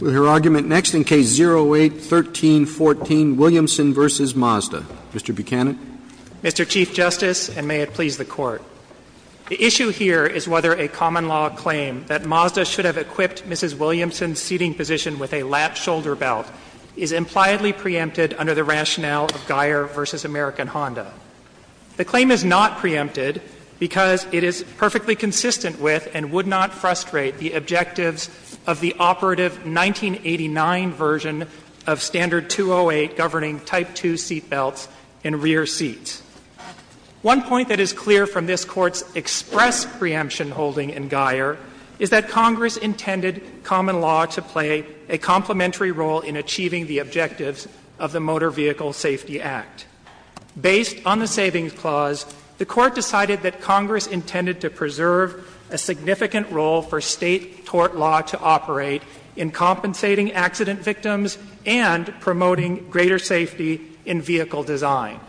With her argument next in Case 08-1314, Williamson v. Mazda. Mr. Buchanan. Mr. Chief Justice, and may it please the Court, the issue here is whether a common-law claim that Mazda should have equipped Mrs. Williamson's seating position with a lap-shoulder belt is impliedly preempted under the rationale of Geyer v. American Honda. The claim is not preempted because it is perfectly consistent with and would not frustrate the objectives of the operative 1989 version of Standard 208 governing Type 2 seatbelts and rear seats. One point that is clear from this Court's express preemption holding in Geyer is that Congress intended common law to play a complementary role in achieving the objectives of the Motor Vehicle Safety Act. Based on the Savings Clause, the Court decided that Congress intended to preserve a significant role for State tort law to operate in compensating accident victims and promoting greater safety in vehicle design.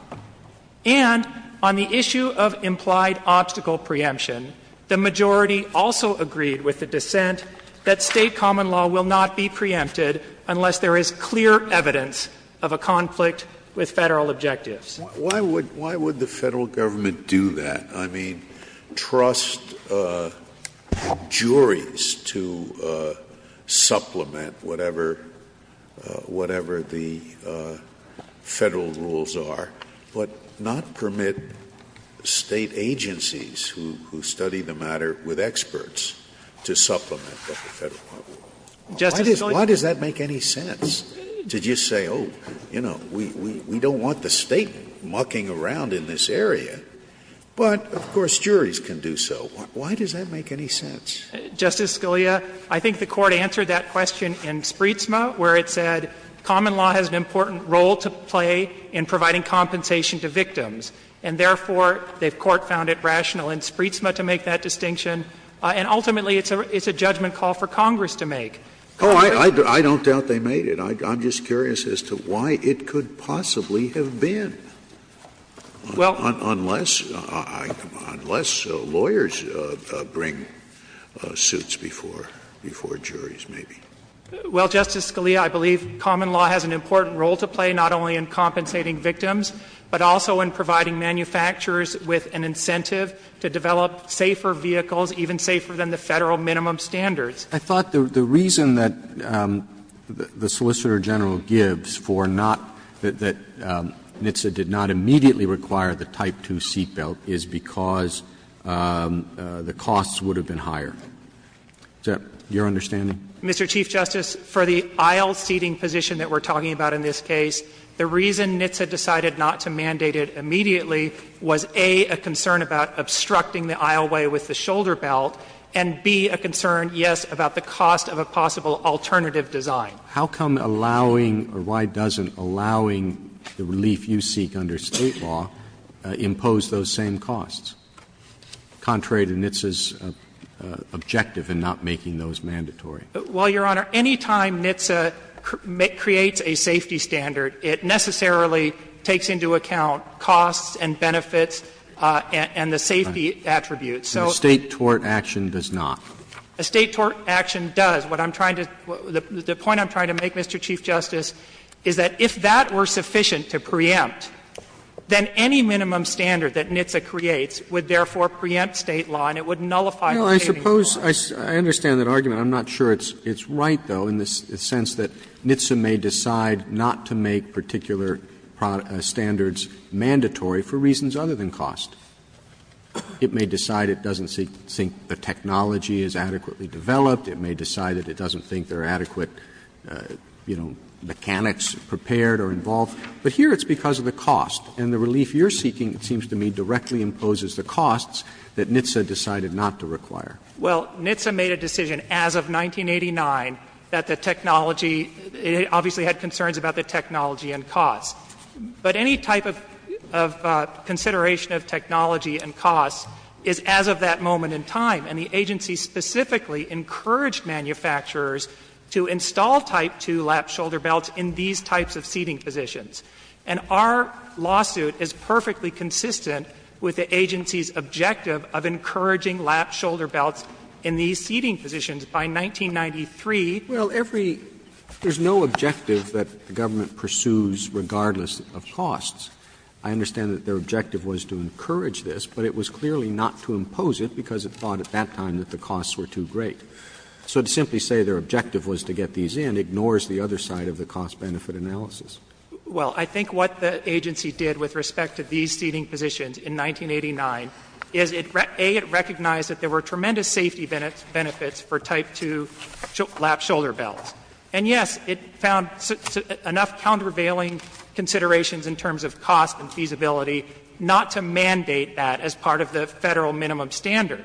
And on the issue of implied obstacle preemption, the majority also agreed with the dissent that State common law will not be preempted unless there is clear evidence of a conflict with Federal objectives. Scalia. Why would the Federal Government do that? I mean, trust juries to supplement whatever the Federal rules are, but not permit State agencies who study the matter with experts to supplement what the Federal government does? Why does that make any sense, to just say, oh, you know, we don't want the State government mucking around in this area, but, of course, juries can do so? Why does that make any sense? Justice Scalia, I think the Court answered that question in Spreetsma, where it said common law has an important role to play in providing compensation to victims. And therefore, the Court found it rational in Spreetsma to make that distinction. And ultimately, it's a judgment call for Congress to make. Oh, I don't doubt they made it. I'm just curious as to why it could possibly have been. Well, unless lawyers bring suits before juries, maybe. Well, Justice Scalia, I believe common law has an important role to play, not only in compensating victims, but also in providing manufacturers with an incentive to develop safer vehicles, even safer than the Federal minimum standards. I thought the reason that the Solicitor General gives for not that NHTSA did not immediately require the Type 2 seat belt is because the costs would have been higher. Is that your understanding? Mr. Chief Justice, for the aisle seating position that we're talking about in this case, the reason NHTSA decided not to mandate it immediately was, A, a concern about obstructing the aisleway with the shoulder belt, and, B, a concern, yes, about the cost of a possible alternative design. How come allowing, or why doesn't allowing the relief you seek under State law impose those same costs, contrary to NHTSA's objective in not making those mandatory? Well, Your Honor, any time NHTSA creates a safety standard, it necessarily takes into account costs and benefits and the safety attributes. So the State tort action does not. A State tort action does. What I'm trying to do, the point I'm trying to make, Mr. Chief Justice, is that if that were sufficient to preempt, then any minimum standard that NHTSA creates would therefore preempt State law, and it would nullify the savings law. No, I suppose, I understand that argument. I'm not sure it's right, though, in the sense that NHTSA may decide not to make particular standards mandatory for reasons other than cost. It may decide it doesn't think the technology is adequately developed. It may decide that it doesn't think there are adequate, you know, mechanics prepared or involved. But here it's because of the cost, and the relief you're seeking, it seems to me, directly imposes the costs that NHTSA decided not to require. Well, NHTSA made a decision as of 1989 that the technology, it obviously had concerns about the technology and cost. But any type of consideration of technology and cost is as of that moment in time. And the agency specifically encouraged manufacturers to install Type 2 lap shoulder belts in these types of seating positions. And our lawsuit is perfectly consistent with the agency's objective of encouraging lap shoulder belts in these seating positions by 1993. Well, every — there's no objective that the government pursues regardless of costs. I understand that their objective was to encourage this, but it was clearly not to impose it because it thought at that time that the costs were too great. So to simply say their objective was to get these in ignores the other side of the cost-benefit analysis. Well, I think what the agency did with respect to these seating positions in 1989 is, A, it recognized that there were tremendous safety benefits for Type 2 lap shoulder belts. And, yes, it found enough countervailing considerations in terms of cost and feasibility not to mandate that as part of the Federal minimum standard.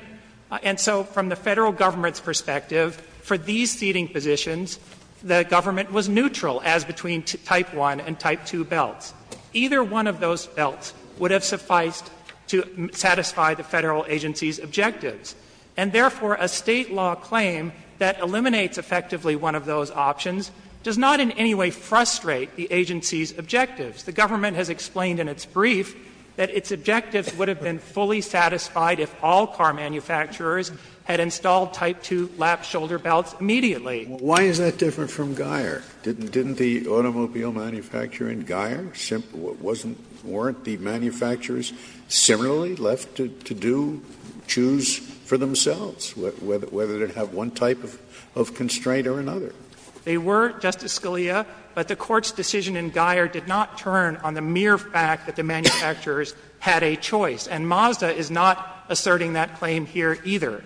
And so from the Federal Government's perspective, for these seating positions, the government was neutral as between Type 1 and Type 2 belts. Either one of those belts would have sufficed to satisfy the Federal agency's objectives. And, therefore, a State law claim that eliminates effectively one of those options does not in any way frustrate the agency's objectives. The government has explained in its brief that its objectives would have been fully satisfied if all car manufacturers had installed Type 2 lap shoulder belts immediately. Why is that different from Geier? Didn't the automobile manufacturer in Geier warrant the manufacturers similarly left to do, choose for themselves, whether to have one type of constraint or another? They were, Justice Scalia, but the Court's decision in Geier did not turn on the mere fact that the manufacturers had a choice. And Mazda is not asserting that claim here either.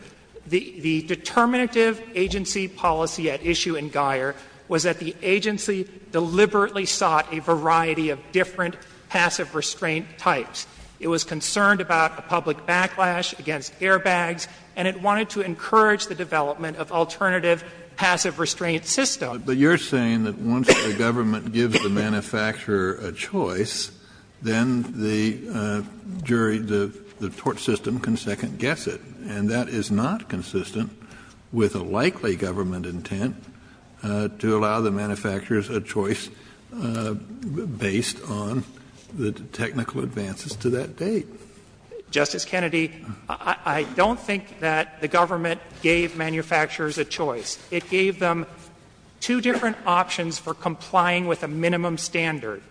The determinative agency policy at issue in Geier was that the agency deliberately sought a variety of different passive restraint types. It was concerned about public backlash against airbags, and it wanted to encourage the development of alternative passive restraint systems. Kennedy, but you're saying that once the government gives the manufacturer a choice, then the jury, the tort system can second-guess it. And that is not consistent with a likely government intent to allow the manufacturers a choice based on the technical advances to that date. Justice Kennedy, I don't think that the government gave manufacturers a choice. It gave them two different options for complying with a minimum standard.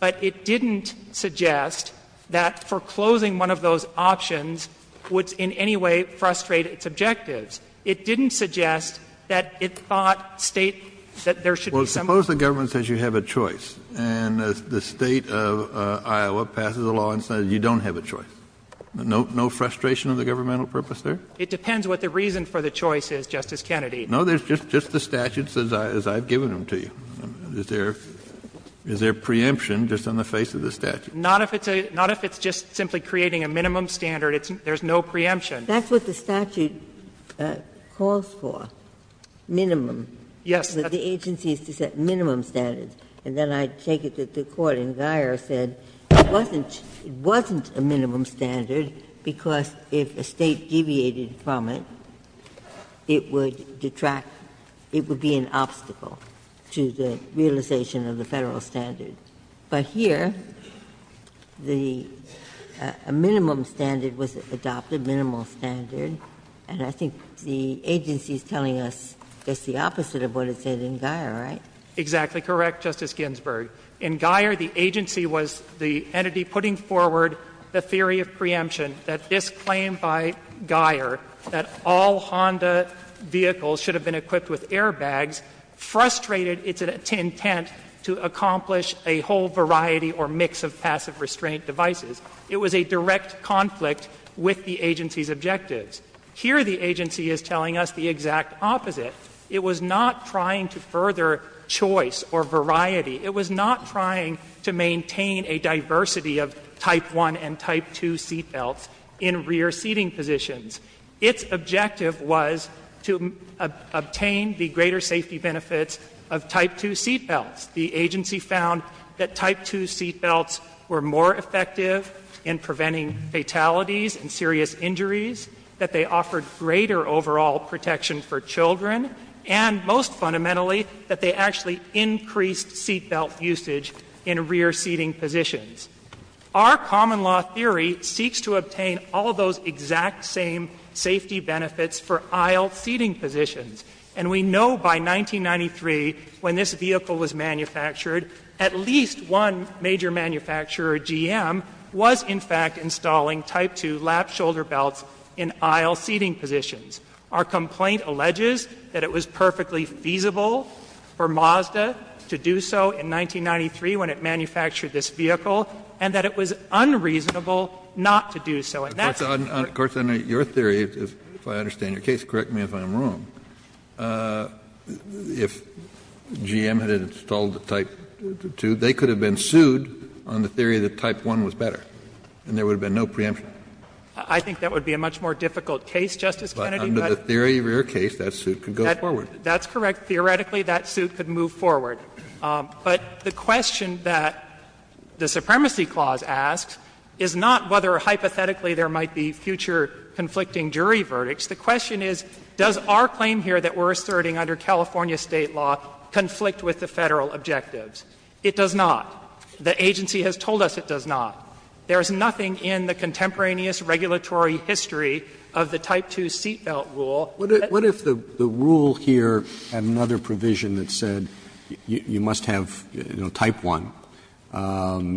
But it didn't suggest that foreclosing one of those options would in any way frustrate its objectives. It didn't suggest that it thought State that there should be some. Well, suppose the government says you have a choice, and the State of Iowa passes a law and says you don't have a choice. No frustration of the governmental purpose there? It depends what the reason for the choice is, Justice Kennedy. No, there's just the statutes as I've given them to you. Is there preemption just on the face of the statute? Not if it's just simply creating a minimum standard. There's no preemption. That's what the statute calls for, minimum. Yes. The agency is to set minimum standards. And then I take it that the Court in Guyer said it wasn't a minimum standard because if a State deviated from it, it would detract, it would be an obstacle to the realization of the Federal standard. But here, the minimum standard was adopted, minimal standard, and I think the agency is telling us it's the opposite of what it said in Guyer, right? Exactly correct, Justice Ginsburg. In Guyer, the agency was the entity putting forward the theory of preemption that this claim by Guyer that all Honda vehicles should have been equipped with airbags frustrated its intent to accomplish a whole variety or mix of passive restraint devices. It was a direct conflict with the agency's objectives. Here, the agency is telling us the exact opposite. It was not trying to further choice or variety. It was not trying to maintain a diversity of Type 1 and Type 2 seatbelts in rear seating positions. Its objective was to obtain the greater safety benefits of Type 2 seatbelts. The agency found that Type 2 seatbelts were more effective in preventing fatalities and serious injuries, that they offered greater overall protection for children, and most fundamentally, that they actually increased seatbelt usage in rear seating positions. Our common law theory seeks to obtain all those exact same safety benefits for aisle seating positions. And we know by 1993, when this vehicle was manufactured, at least one major manufacturer, GM, was in fact installing Type 2 lap-shoulder belts in aisle seating positions. Our complaint alleges that it was perfectly feasible for Mazda to do so in 1993 when it manufactured this vehicle, and that it was unreasonable not to do so. And that's the point. Kennedy. Of course, under your theory, if I understand your case, correct me if I'm wrong, if GM had installed the Type 2, they could have been sued on the theory that Type 1 was better, and there would have been no preemption. I think that would be a much more difficult case, Justice Kennedy. But under the theory of your case, that suit could go forward. That's correct. Theoretically, that suit could move forward. But the question that the Supremacy Clause asks is not whether hypothetically there might be future conflicting jury verdicts. The question is, does our claim here that we're asserting under California State law conflict with the Federal objectives? It does not. The agency has told us it does not. There is nothing in the contemporaneous regulatory history of the Type 2 seat belt rule. Roberts. What if the rule here had another provision that said you must have Type 1,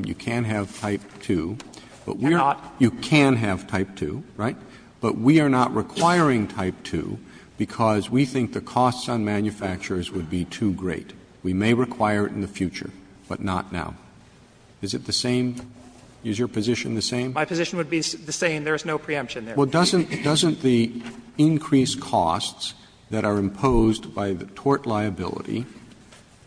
you can have Type 2, but we're not you can have Type 2, right? But we are not requiring Type 2 because we think the costs on manufacturers would be too great. We may require it in the future, but not now. Is it the same? Is your position the same? My position would be the same. There is no preemption there. Well, doesn't the increased costs that are imposed by the tort liability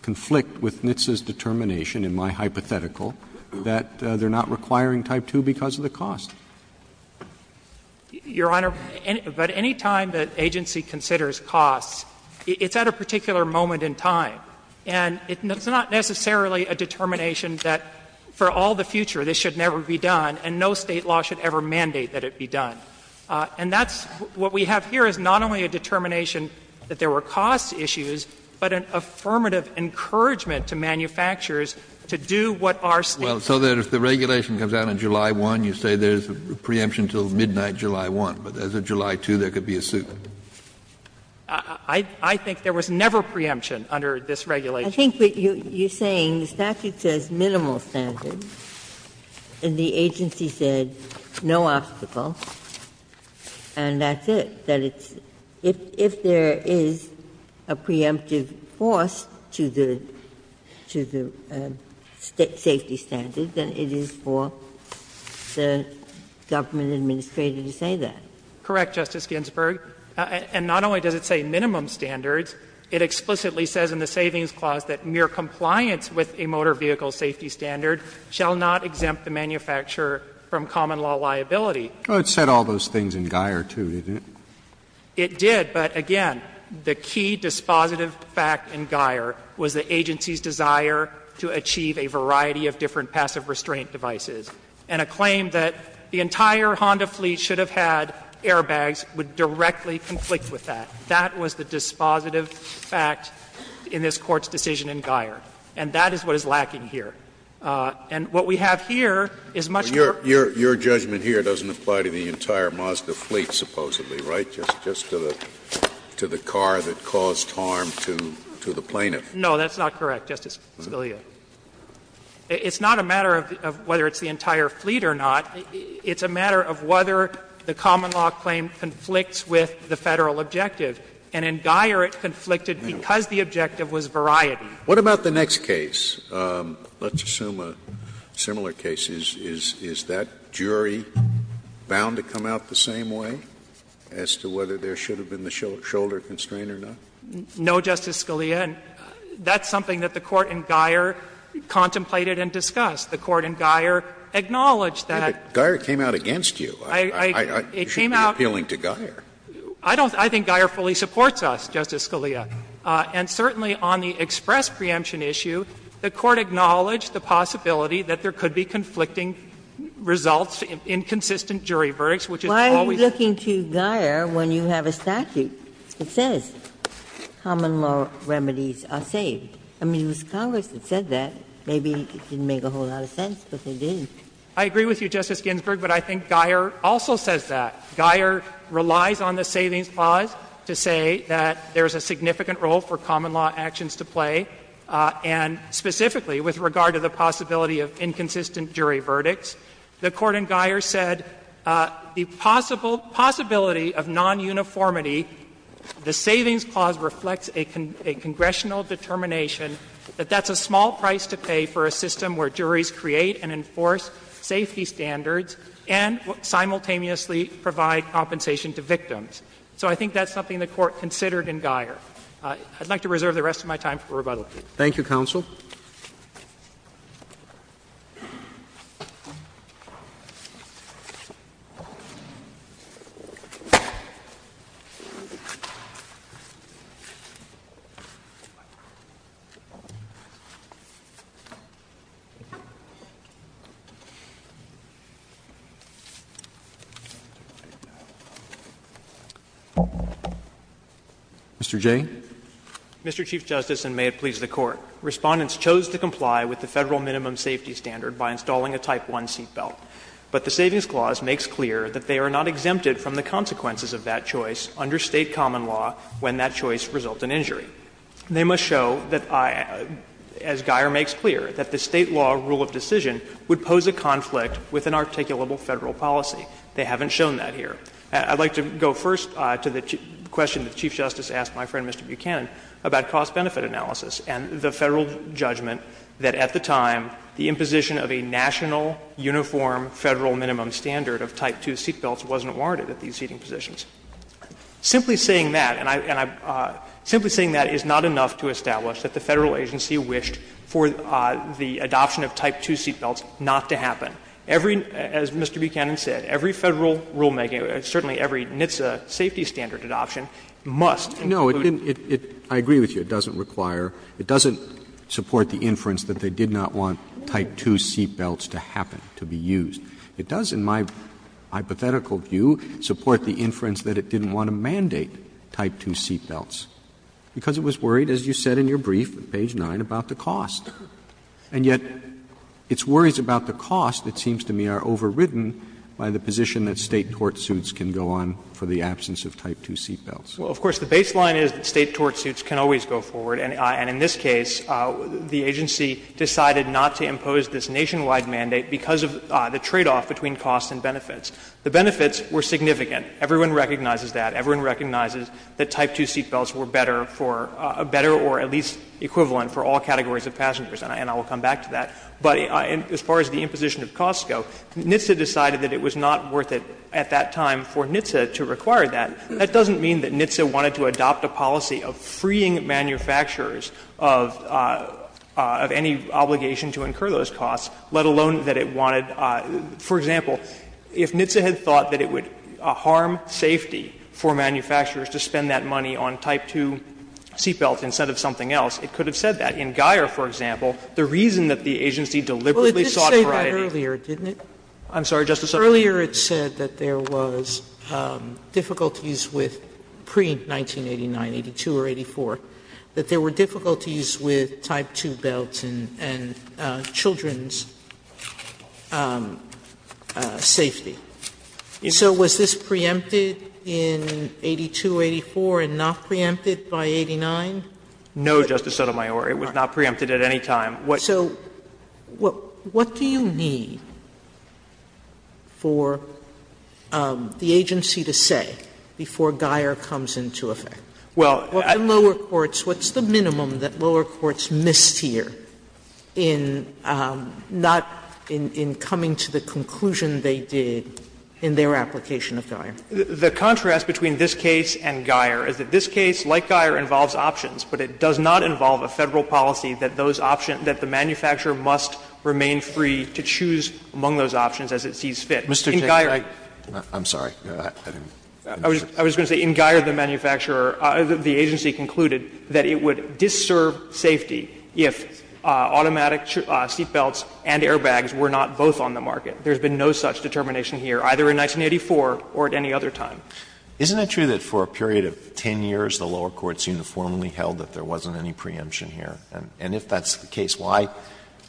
conflict with NHTSA's determination, in my hypothetical, that they're not requiring Type 2 because of the cost? Your Honor, but any time that agency considers costs, it's at a particular moment in time. And it's not necessarily a determination that for all the future this should never be done, and no State law should ever mandate that it be done. And that's what we have here is not only a determination that there were cost issues, but an affirmative encouragement to manufacturers to do what our States I think there was never preemption under this regulation. I think what you're saying, the statute says minimal standards, and the agency said no obstacles, and that's it, that it's — if there is a preemptive force to the — to the safety standard, then it's a preemptive force. And more than it is for the government administrator to say that. Correct, Justice Ginsburg. And not only does it say minimum standards, it explicitly says in the savings clause that mere compliance with a motor vehicle safety standard shall not exempt the manufacturer from common law liability. It said all those things in Guyer too, didn't it? It did. But again, the key dispositive fact in Guyer was the agency's desire to achieve a variety of different passive restraint devices, and a claim that the entire Honda fleet should have had airbags would directly conflict with that. That was the dispositive fact in this Court's decision in Guyer, and that is what is lacking here. And what we have here is much more of a case of compliance with a motor vehicle safety standard. Scalia. Your judgment here doesn't apply to the entire Mazda fleet, supposedly, right? Just to the car that caused harm to the plaintiff. No, that's not correct, Justice Scalia. It's not a matter of whether it's the entire fleet or not. It's a matter of whether the common law claim conflicts with the Federal objective. And in Guyer, it conflicted because the objective was variety. What about the next case? Let's assume a similar case. Is that jury bound to come out the same way as to whether there should have been the shoulder constraint or not? No, Justice Scalia. That's something that the Court in Guyer contemplated and discussed. The Court in Guyer acknowledged that. But Guyer came out against you. I should be appealing to Guyer. I don't think Guyer fully supports us, Justice Scalia. And certainly on the express preemption issue, the Court acknowledged the possibility that there could be conflicting results in consistent jury verdicts, which is always Why are you looking to Guyer when you have a statute that says common law remedies are saved? I mean, it was Congress that said that. Maybe it didn't make a whole lot of sense, but they did. I agree with you, Justice Ginsburg, but I think Guyer also says that. Guyer relies on the savings clause to say that there is a significant role for common law in the possibility of inconsistent jury verdicts. The Court in Guyer said the possibility of non-uniformity, the savings clause reflects a congressional determination that that's a small price to pay for a system where juries create and enforce safety standards and simultaneously provide compensation to victims. So I think that's something the Court considered in Guyer. I'd like to reserve the rest of my time for rebuttal. Thank you, Counsel. Mr. Jay. Mr. Chief Justice, and may it please the Court, Respondents chose to comply with the Federal minimum safety standard by installing a Type I seat belt, but the savings clause makes clear that they are not exempted from the consequences of that choice under State common law when that choice results in injury. They must show that, as Guyer makes clear, that the State law rule of decision would pose a conflict with an articulable Federal policy. They haven't shown that here. I'd like to go first to the question that the Chief Justice asked my friend, Mr. Buchanan, about cost-benefit analysis and the Federal judgment that at the time the imposition of a national uniform Federal minimum standard of Type II seat belts wasn't warranted at these seating positions. Simply saying that, and I'm simply saying that is not enough to establish that the Federal agency wished for the adoption of Type II seat belts not to happen. Every, as Mr. Buchanan said, every Federal rulemaking, certainly every NHTSA safety standard adoption must include. Roberts. No, I agree with you. It doesn't require, it doesn't support the inference that they did not want Type II seat belts to happen, to be used. It does, in my hypothetical view, support the inference that it didn't want to mandate Type II seat belts, because it was worried, as you said in your brief at page 9, about the cost. And yet, its worries about the cost, it seems to me, are overridden by the position that State tortsuits can go on for the absence of Type II seat belts. Well, of course, the baseline is that State tortsuits can always go forward, and in this case, the agency decided not to impose this nationwide mandate because of the tradeoff between costs and benefits. The benefits were significant. Everyone recognizes that. Everyone recognizes that Type II seat belts were better for, better or at least equivalent on for all categories of passengers, and I will come back to that. But as far as the imposition of costs go, NHTSA decided that it was not worth it at that time for NHTSA to require that. That doesn't mean that NHTSA wanted to adopt a policy of freeing manufacturers of any obligation to incur those costs, let alone that it wanted, for example, if NHTSA had thought that it would harm safety for manufacturers to spend that money on Type II seat belts instead of something else, it could have said that. In Guyer, for example, the reason that the agency deliberately sought variety in Guyer. Sotomayor, I'm sorry, Justice Sotomayor. Sotomayor, it said that there was difficulties with pre-1989, 82 or 84, that there were difficulties with Type II belts and children's safety. So was this preempted in 82, 84, and not preempted by 89? No, Justice Sotomayor, it was not preempted at any time. So what do you need for the agency to say before Guyer comes into effect? Well, I think the lower courts, what's the minimum that lower courts missed here in not coming to the conclusion they did in their application of Guyer? The contrast between this case and Guyer is that this case, like Guyer, involves options, but it does not involve a Federal policy that those options, that the manufacturer must remain free to choose among those options as it sees fit. In Guyer, I'm sorry, I didn't mean to interrupt. I was going to say in Guyer, the manufacturer, the agency concluded that it would disserve safety if automatic seat belts and airbags were not both on the market. There's been no such determination here, either in 1984 or at any other time. Isn't it true that for a period of 10 years, the lower courts uniformly held that there wasn't any preemption here? And if that's the case, why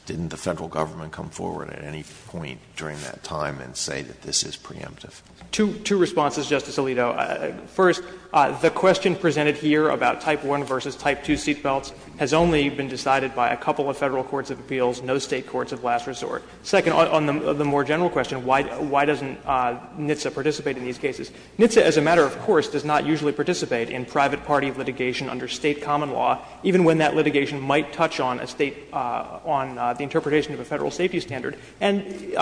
didn't the Federal government come forward at any point during that time and say that this is preemptive? Two responses, Justice Alito. First, the question presented here about Type I v. Type II seat belts has only been decided by a couple of Federal courts of appeals, no State courts of last resort. Second, on the more general question, why doesn't NHTSA participate in these cases? NHTSA, as a matter of course, does not usually participate in private party litigation under State common law, even when that litigation might touch on a State, on the interpretation of a Federal safety standard. And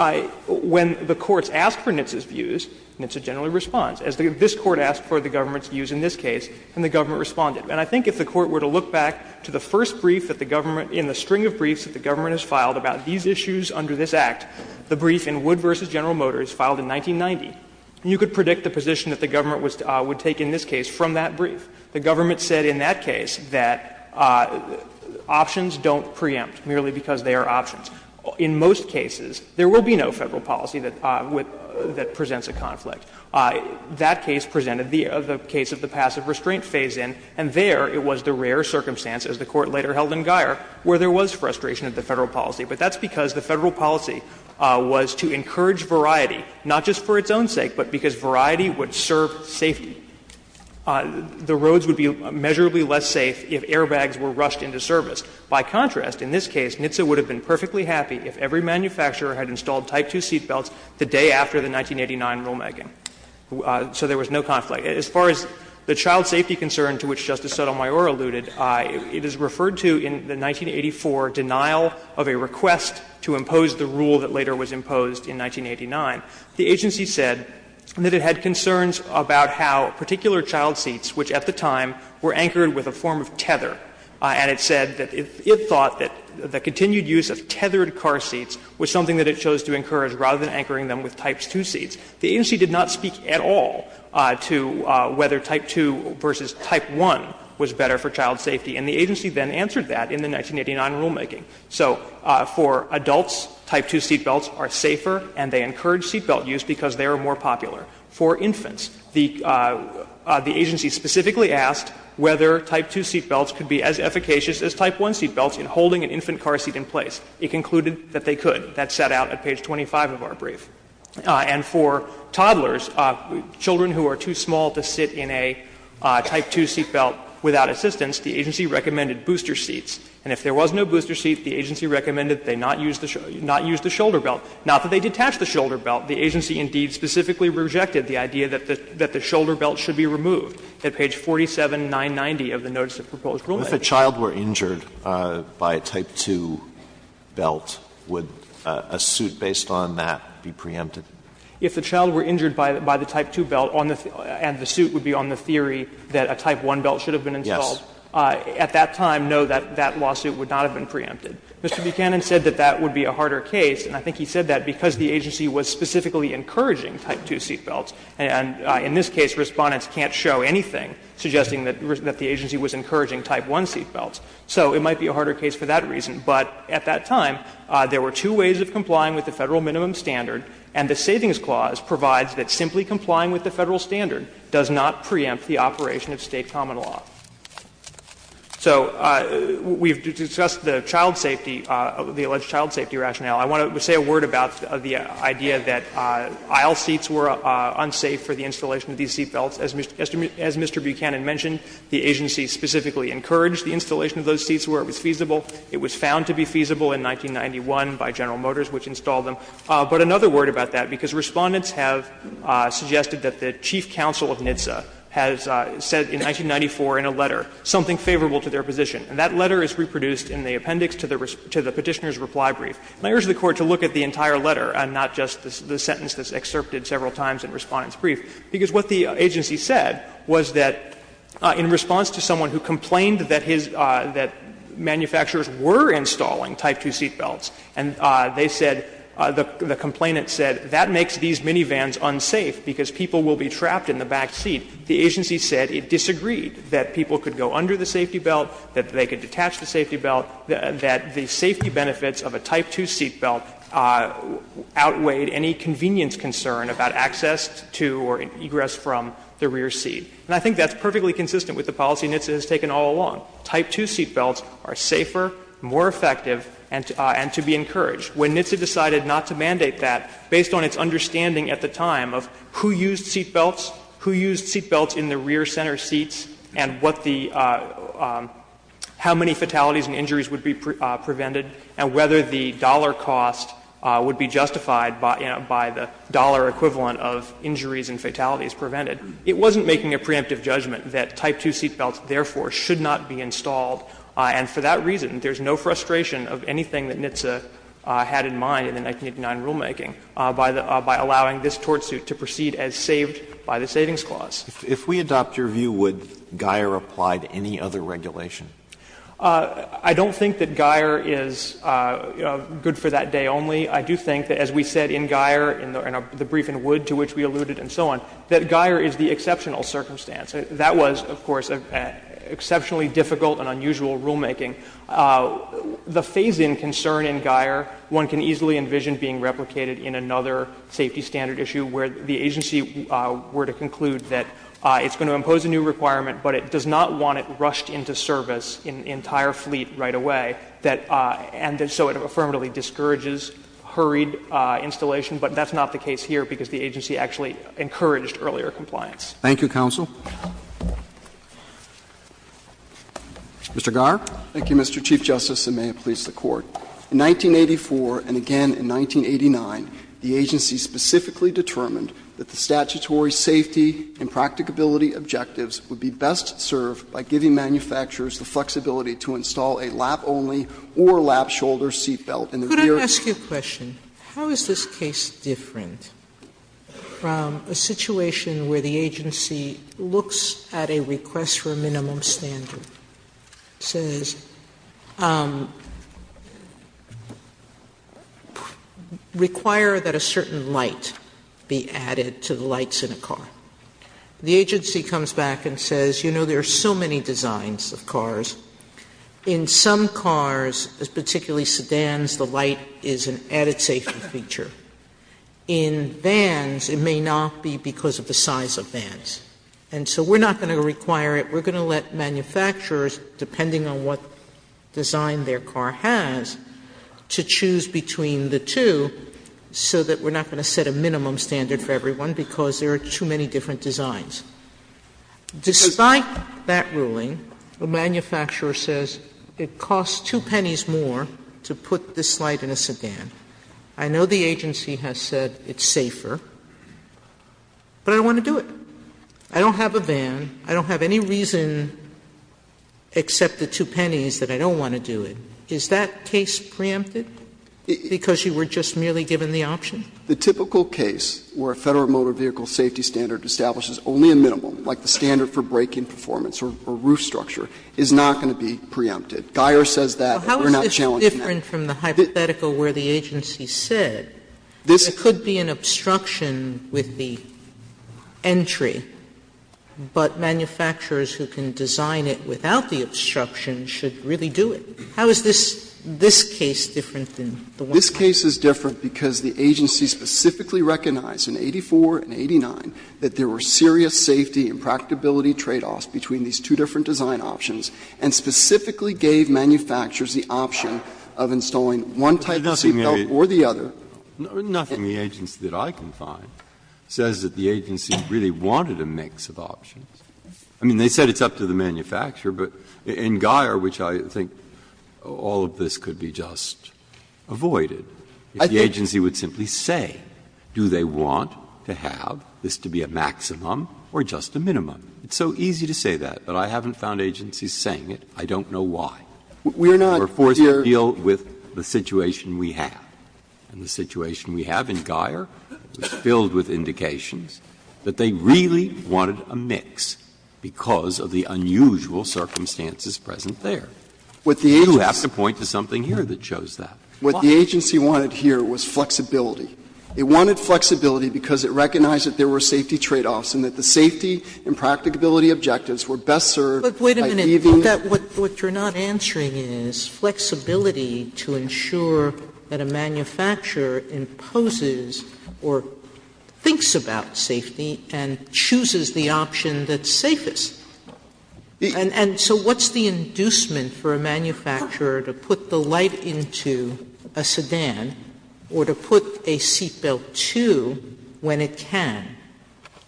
when the courts ask for NHTSA's views, NHTSA generally responds. As this Court asked for the government's views in this case, and the government responded. And I think if the Court were to look back to the first brief that the government – in the string of briefs that the government has filed about these issues under this Act, the brief in Wood v. General Motors filed in 1990, you could predict the position that the government was – would take in this case from that brief. The government said in that case that options don't preempt merely because they are options. In most cases, there will be no Federal policy that presents a conflict. That case presented the case of the passive restraint phase-in, and there it was the rare circumstance, as the Court later held in Guyer, where there was frustration of the Federal policy. But that's because the Federal policy was to encourage variety, not just for its own sake, but because variety would serve safety. The roads would be measurably less safe if airbags were rushed into service. By contrast, in this case, NHTSA would have been perfectly happy if every manufacturer had installed Type 2 seatbelts the day after the 1989 rulemaking. So there was no conflict. As far as the child safety concern, to which Justice Sotomayor alluded, it is referred to in the 1984 denial of a request to impose the rule that later was imposed in 1989. The agency said that it had concerns about how particular child seats, which at the time were anchored with a form of tether, and it said that it thought that the continued use of tethered car seats was something that it chose to encourage rather than anchoring them with Type 2 seats. The agency did not speak at all to whether Type 2 versus Type 1 was better for child safety, and the agency then answered that in the 1989 rulemaking. So for adults, Type 2 seatbelts are safer and they encourage seatbelt use because they are more popular. For infants, the agency specifically asked whether Type 2 seatbelts could be as efficacious as Type 1 seatbelts in holding an infant car seat in place. It concluded that they could. That sat out at page 25 of our brief. And for toddlers, children who are too small to sit in a Type 2 seatbelt without assistance, the agency recommended booster seats. And if there was no booster seat, the agency recommended that they not use the shoulder belt. Not that they detached the shoulder belt. The agency, indeed, specifically rejected the idea that the shoulder belt should be removed at page 47990 of the notice of proposed rulemaking. Alitoso, if a child were injured by a Type 2 belt, would a suit based on that be preempted? If a child were injured by the Type 2 belt and the suit would be on the theory that a Type 1 belt should have been installed, at that time, no, that lawsuit would not have been preempted. Mr. Buchanan said that that would be a harder case, and I think he said that because the agency was specifically encouraging Type 2 seatbelts, and in this case, Respondents can't show anything suggesting that the agency was encouraging Type 1 seatbelts. So it might be a harder case for that reason. But at that time, there were two ways of complying with the Federal Minimum Standard, and the Savings Clause provides that simply complying with the Federal standard does not preempt the operation of State common law. So we've discussed the child safety, the alleged child safety rationale. I want to say a word about the idea that aisle seats were unsafe for the installation of these seatbelts. As Mr. Buchanan mentioned, the agency specifically encouraged the installation of those seats where it was feasible. It was found to be feasible in 1991 by General Motors, which installed them. But another word about that, because Respondents have suggested that the chief counsel of NHTSA has said in 1994 in a letter something favorable to their position, and that letter is reproduced in the appendix to the Petitioner's reply brief. And I urge the Court to look at the entire letter and not just the sentence that's What the agency said was that in response to someone who complained that his – that manufacturers were installing Type 2 seatbelts, and they said, the complainant said, that makes these minivans unsafe because people will be trapped in the backseat. The agency said it disagreed that people could go under the safety belt, that they could detach the safety belt, that the safety benefits of a Type 2 seatbelt outweighed any convenience concern about access to or egress from the rear seat. And I think that's perfectly consistent with the policy NHTSA has taken all along. Type 2 seatbelts are safer, more effective, and to be encouraged. When NHTSA decided not to mandate that, based on its understanding at the time of who used seatbelts, who used seatbelts in the rear center seats, and what the – how many fatalities and injuries would be prevented, and whether the dollar cost would be justified by the dollar equivalent of injuries and fatalities prevented, it wasn't making a preemptive judgment that Type 2 seatbelts therefore should not be installed. And for that reason, there's no frustration of anything that NHTSA had in mind in the 1989 rulemaking by allowing this tortsuit to proceed as saved by the Savings Clause. If we adopt your view, would Geier apply to any other regulation? I don't think that Geier is good for that day only. I do think that, as we said in Geier, in the brief in Wood to which we alluded and so on, that Geier is the exceptional circumstance. That was, of course, exceptionally difficult and unusual rulemaking. The phase-in concern in Geier, one can easily envision being replicated in another safety standard issue where the agency were to conclude that it's going to impose a new requirement, but it does not want it rushed into service in an entire fleet right away, and so it affirmatively discourages hurried installation. But that's not the case here, because the agency actually encouraged earlier compliance. Thank you, counsel. Mr. Garre. Thank you, Mr. Chief Justice, and may it please the Court. In 1984 and again in 1989, the agency specifically determined that the statutory safety and practicability objectives would be best served by giving manufacturers the flexibility to install a lap-only or lap-shoulder seat belt in the rear. Sotomayor, could I ask you a question? How is this case different from a situation where the agency looks at a request for a minimum standard, says, require that a certain light be added to the lights in a car. The agency comes back and says, you know, there are so many designs of cars. In some cars, particularly sedans, the light is an added safety feature. In vans, it may not be because of the size of vans. And so we're not going to require it. We're going to let manufacturers, depending on what design their car has, to choose between the two so that we're not going to set a minimum standard for everyone because there are too many different designs. Despite that ruling, the manufacturer says it costs 2 pennies more to put this light in a sedan. I know the agency has said it's safer, but I don't want to do it. I don't have a van. I don't have any reason except the 2 pennies that I don't want to do it. Is that case preempted because you were just merely given the option? The typical case where a Federal Motor Vehicle Safety Standard establishes only a minimum, like the standard for braking performance or roof structure, is not going to be preempted. Guyer says that. We're not challenging that. Sotomayor, how is this different from the hypothetical where the agency said there could be an obstruction with the entry, but manufacturers who can design it without How is this case different than the one that's presented? This case is different because the agency specifically recognized in 84 and 89 that there were serious safety and practicability tradeoffs between these two different design options, and specifically gave manufacturers the option of installing one type of seat belt or the other. Nothing the agency that I can find says that the agency really wanted a mix of options. I mean, they said it's up to the manufacturer, but in Guyer, which I think all of this could be just avoided, if the agency would simply say, do they want to have this to be a maximum or just a minimum? It's so easy to say that, but I haven't found agencies saying it. I don't know why. We're forced to deal with the situation we have. And the situation we have in Guyer was filled with indications that they really wanted a mix because of the unusual circumstances present there. You have to point to something here that shows that. What the agency wanted here was flexibility. It wanted flexibility because it recognized that there were safety tradeoffs and that the safety and practicability objectives were best served by leaving But wait a minute. What you're not answering is flexibility to ensure that a manufacturer imposes or thinks about safety and chooses the option that's safest. Sotomayor, and so what's the inducement for a manufacturer to put the light into a sedan or to put a seatbelt to when it can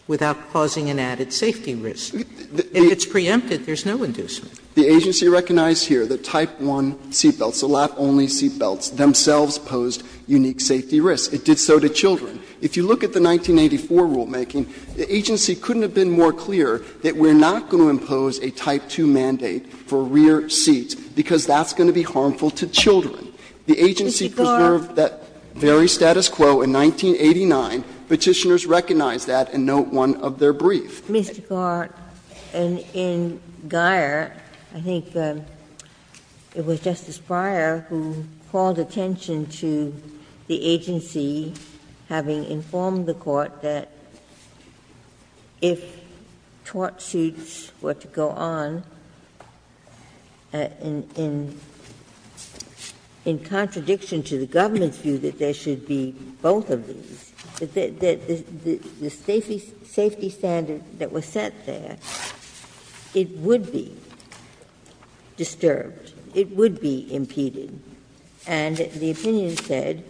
without causing an added safety risk? If it's preempted, there's no inducement. The agency recognized here that Type I seatbelts, the lap-only seatbelts, themselves posed unique safety risks. It did so to children. If you look at the 1984 rulemaking, the agency couldn't have been more clear that we're not going to impose a Type II mandate for rear seats because that's going to be harmful to children. The agency preserved that very status quo in 1989. Petitioners recognized that and note one of their briefs. Ginsburg. And in Guyer, I think it was Justice Breyer who called attention to the agency having informed the Court that if tort suits were to go on in contradiction to the government's view that there should be both of these, that the safety standard that was set there, it would be disturbed, it would be impeded. And the opinion said,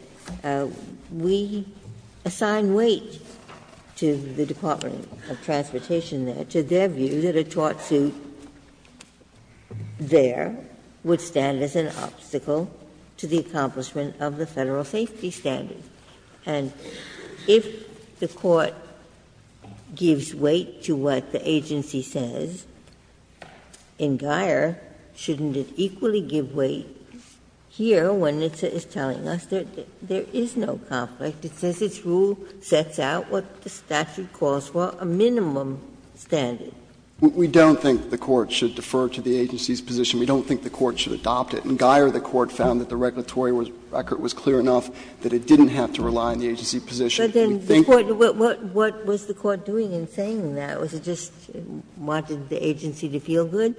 we assign weight to the Department of Transportation there, to their view that a tort suit there would stand as an obstacle to the accomplishment of the Federal safety standard. And if the Court gives weight to what the agency says, in Guyer, shouldn't it equally give weight here when it's telling us there is no conflict? It says its rule sets out what the statute calls for, a minimum standard. We don't think the Court should defer to the agency's position. We don't think the Court should adopt it. In Guyer, the Court found that the regulatory record was clear enough that it didn't have to rely on the agency's position. We think that the Court should adopt it. But then what was the Court doing in saying that? Was it just wanting the agency to feel good?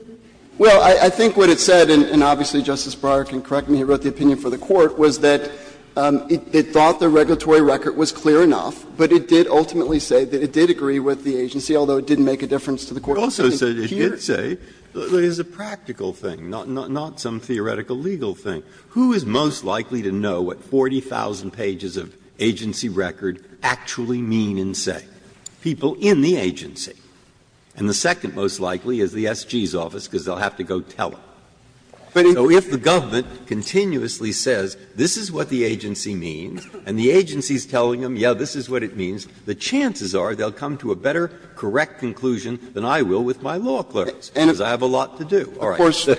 Well, I think what it said, and obviously Justice Breyer can correct me, he wrote the opinion for the Court, was that it thought the regulatory record was clear enough, but it did ultimately say that it did agree with the agency, although it didn't make a difference to the Court. Breyer, it also said it did say that it was a practical thing, not some theoretical legal thing. Who is most likely to know what 40,000 pages of agency record actually mean and say? People in the agency. And the second most likely is the SG's office, because they'll have to go tell them. So if the government continuously says this is what the agency means and the agency is telling them, yes, this is what it means, the chances are they'll come to a better correct conclusion than I will with my law clerks, because I have a lot to do. All right.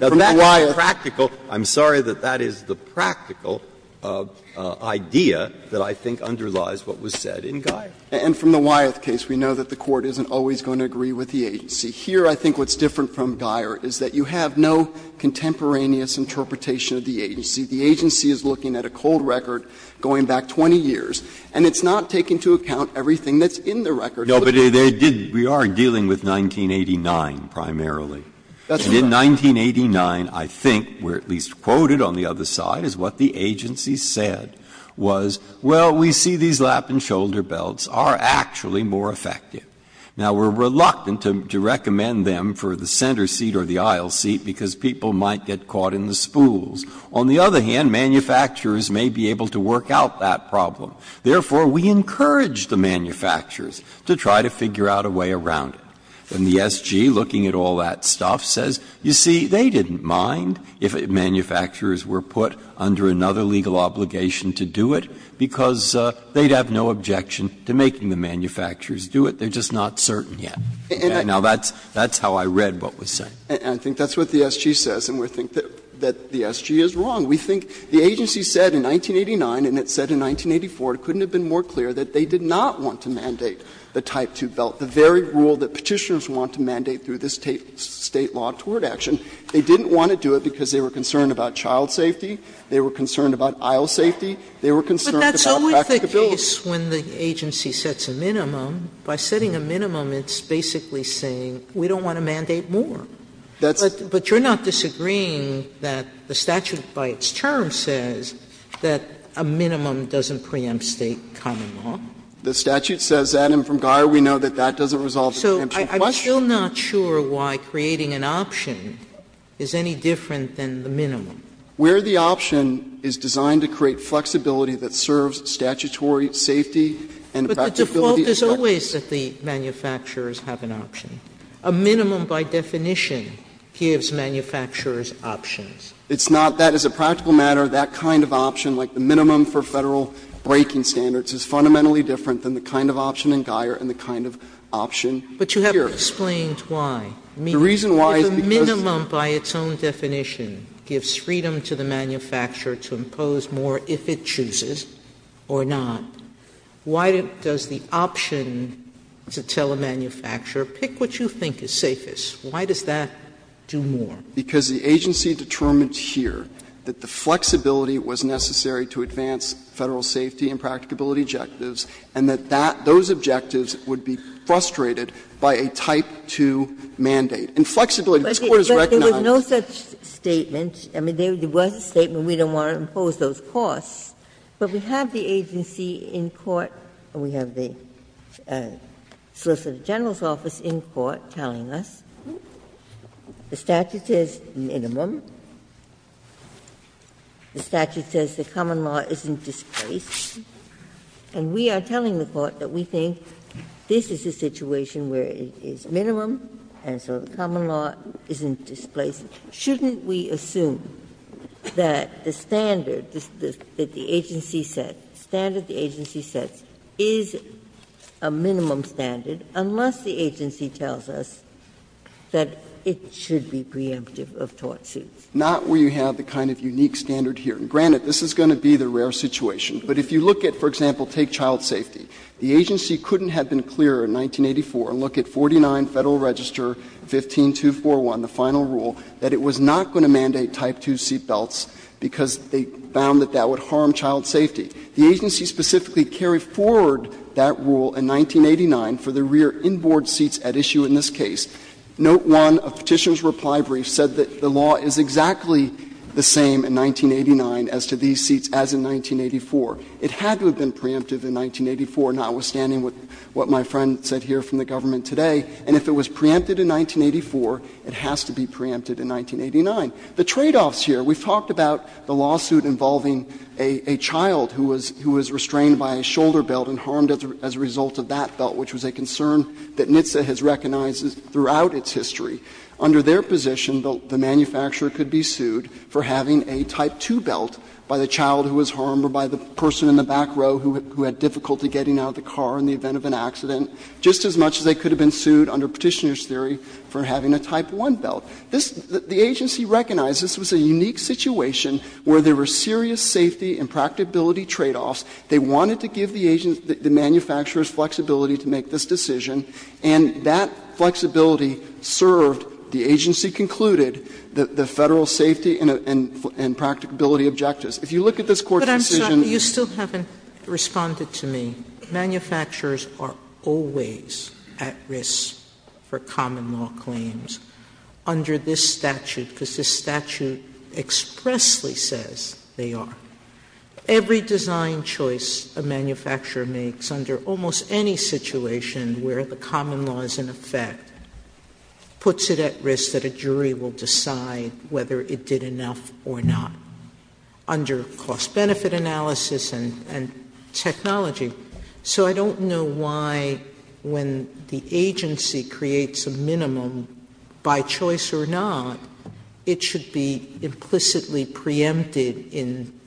Now, that's practical. I'm sorry that that is the practical idea that I think underlies what was said in Guyer. And from the Wyeth case, we know that the Court isn't always going to agree with the agency. Here, I think what's different from Guyer is that you have no contemporaneous interpretation of the agency. The agency is looking at a cold record going back 20 years, and it's not taking to account everything that's in the record. Breyer, we are dealing with 1989 primarily. And in 1989, I think, we're at least quoted on the other side as what the agency said was, well, we see these lap and shoulder belts are actually more effective. Now, we're reluctant to recommend them for the center seat or the aisle seat because people might get caught in the spools. On the other hand, manufacturers may be able to work out that problem. Therefore, we encourage the manufacturers to try to figure out a way around it. And the SG, looking at all that stuff, says, you see, they didn't mind if manufacturers were put under another legal obligation to do it, because they'd have no objection to making the manufacturers do it. They're just not certain yet. Now, that's how I read what was said. And I think that's what the SG says, and we think that the SG is wrong. We think the agency said in 1989, and it said in 1984, it couldn't have been more clear that they did not want to mandate the Type 2 belt, the very rule that Petitioners want to mandate through this State law toward action. They didn't want to do it because they were concerned about child safety, they were concerned about aisle safety, they were concerned about practicability. Sotomayor, But that's always the case when the agency sets a minimum. By setting a minimum, it's basically saying we don't want to mandate more. But you're not disagreeing that the statute by its term says that a minimum doesn't preempt State common law? The statute says that, and from Geier we know that that doesn't resolve the preemption question. Sotomayor, I'm still not sure why creating an option is any different than the minimum. Where the option is designed to create flexibility that serves statutory safety and practicability. But the default is always that the manufacturers have an option. A minimum by definition gives manufacturers options. It's not. That is a practical matter. That kind of option, like the minimum for Federal breaking standards, is fundamentally different than the kind of option in Geier and the kind of option here. Sotomayor, but you haven't explained why. The reason why is because the minimum by its own definition gives freedom to the manufacturer to impose more if it chooses or not. Why does the option to tell a manufacturer, pick what you think is safest, why does that do more? Because the agency determined here that the flexibility was necessary to advance Federal safety and practicability objectives, and that that, those objectives would be frustrated by a Type 2 mandate. And flexibility, this Court has recognized. Ginsburg. But there was no such statement. I mean, there was a statement, we don't want to impose those costs. But we have the agency in court, we have the Solicitor General's office in court telling us, the statute says minimum, the statute says the common law isn't displaced, and we are telling the Court that we think this is a situation where it is minimum and so the common law isn't displaced. Shouldn't we assume that the standard that the agency set, the standard the agency sets, is a minimum standard unless the agency tells us that it should be preemptive of tort suits? Not where you have the kind of unique standard here. And granted, this is going to be the rare situation. But if you look at, for example, take child safety, the agency couldn't have been clearer in 1984 and look at 49 Federal Register 15241, the final rule, that it was not going to mandate Type 2 seatbelts because they found that that would harm child safety. The agency specifically carried forward that rule in 1989 for the rear inboard seats at issue in this case. Note 1 of Petitioner's reply brief said that the law is exactly the same in 1989 as to these seats as in 1984. It had to have been preemptive in 1984, notwithstanding what my friend said here from the government today. And if it was preempted in 1984, it has to be preempted in 1989. The tradeoffs here, we've talked about the lawsuit involving a child who was restrained by a shoulder belt and harmed as a result of that belt, which was a concern that throughout its history, under their position, the manufacturer could be sued for having a Type 2 belt by the child who was harmed or by the person in the back row who had difficulty getting out of the car in the event of an accident, just as much as they could have been sued under Petitioner's theory for having a Type 1 belt. The agency recognized this was a unique situation where there were serious safety and practicability tradeoffs. They wanted to give the agent, the manufacturer's flexibility to make this decision, and that flexibility served, the agency concluded, the Federal safety and practicability objectives. If you look at this Court's decision. Sotomayor, you still haven't responded to me. Manufacturers are always at risk for common law claims under this statute, because this statute expressly says they are. Every design choice a manufacturer makes under almost any situation where the common law is in effect puts it at risk that a jury will decide whether it did enough or not under cost-benefit analysis and technology. So I don't know why, when the agency creates a minimum, by choice or not, it should be implicitly preempted in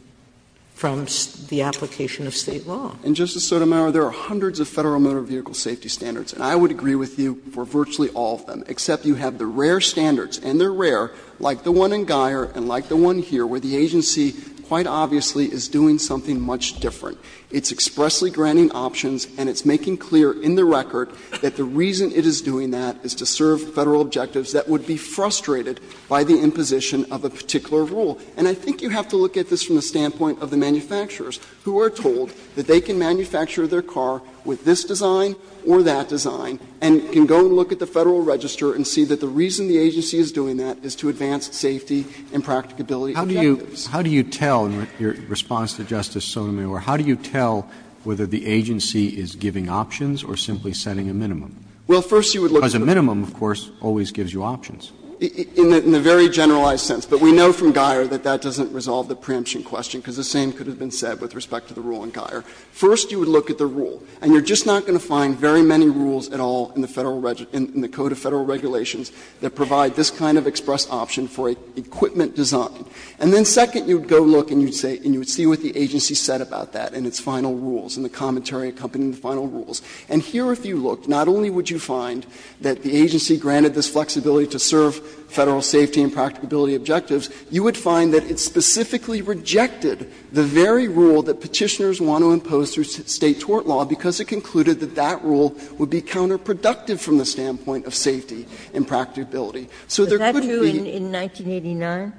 the application of State law. And, Justice Sotomayor, there are hundreds of Federal motor vehicle safety standards, and I would agree with you for virtually all of them, except you have the rare standards, and they are rare, like the one in Guyer and like the one here, where the agency quite obviously is doing something much different. It's expressly granting options, and it's making clear in the record that the reason it is doing that is to serve Federal objectives that would be frustrated by the imposition of a particular rule. And I think you have to look at this from the standpoint of the manufacturers who are told that they can manufacture their car with this design or that design and can go and look at the Federal register and see that the reason the agency is doing that is to advance safety and practicability objectives. Roberts. Roberts. How do you tell, in response to Justice Sotomayor, how do you tell whether the agency is giving options or simply setting a minimum? Because a minimum, of course, always gives you options. In a very generalized sense, but we know from Guyer that that doesn't resolve the preemption question, because the same could have been said with respect to the rule in Guyer. First, you would look at the rule, and you are just not going to find very many rules at all in the Federal register, in the Code of Federal Regulations that provide this kind of express option for equipment design. And then second, you would go look and you would say, and you would see what the agency said about that in its final rules, in the commentary accompanying the final rules. And here, if you looked, not only would you find that the agency granted this flexibility to serve Federal safety and practicability objectives, you would find that it specifically rejected the very rule that Petitioners want to impose through State tort law, because it concluded that that rule would be counterproductive from the standpoint of safety and practicability. So there could be the need to say that. Ginsburg.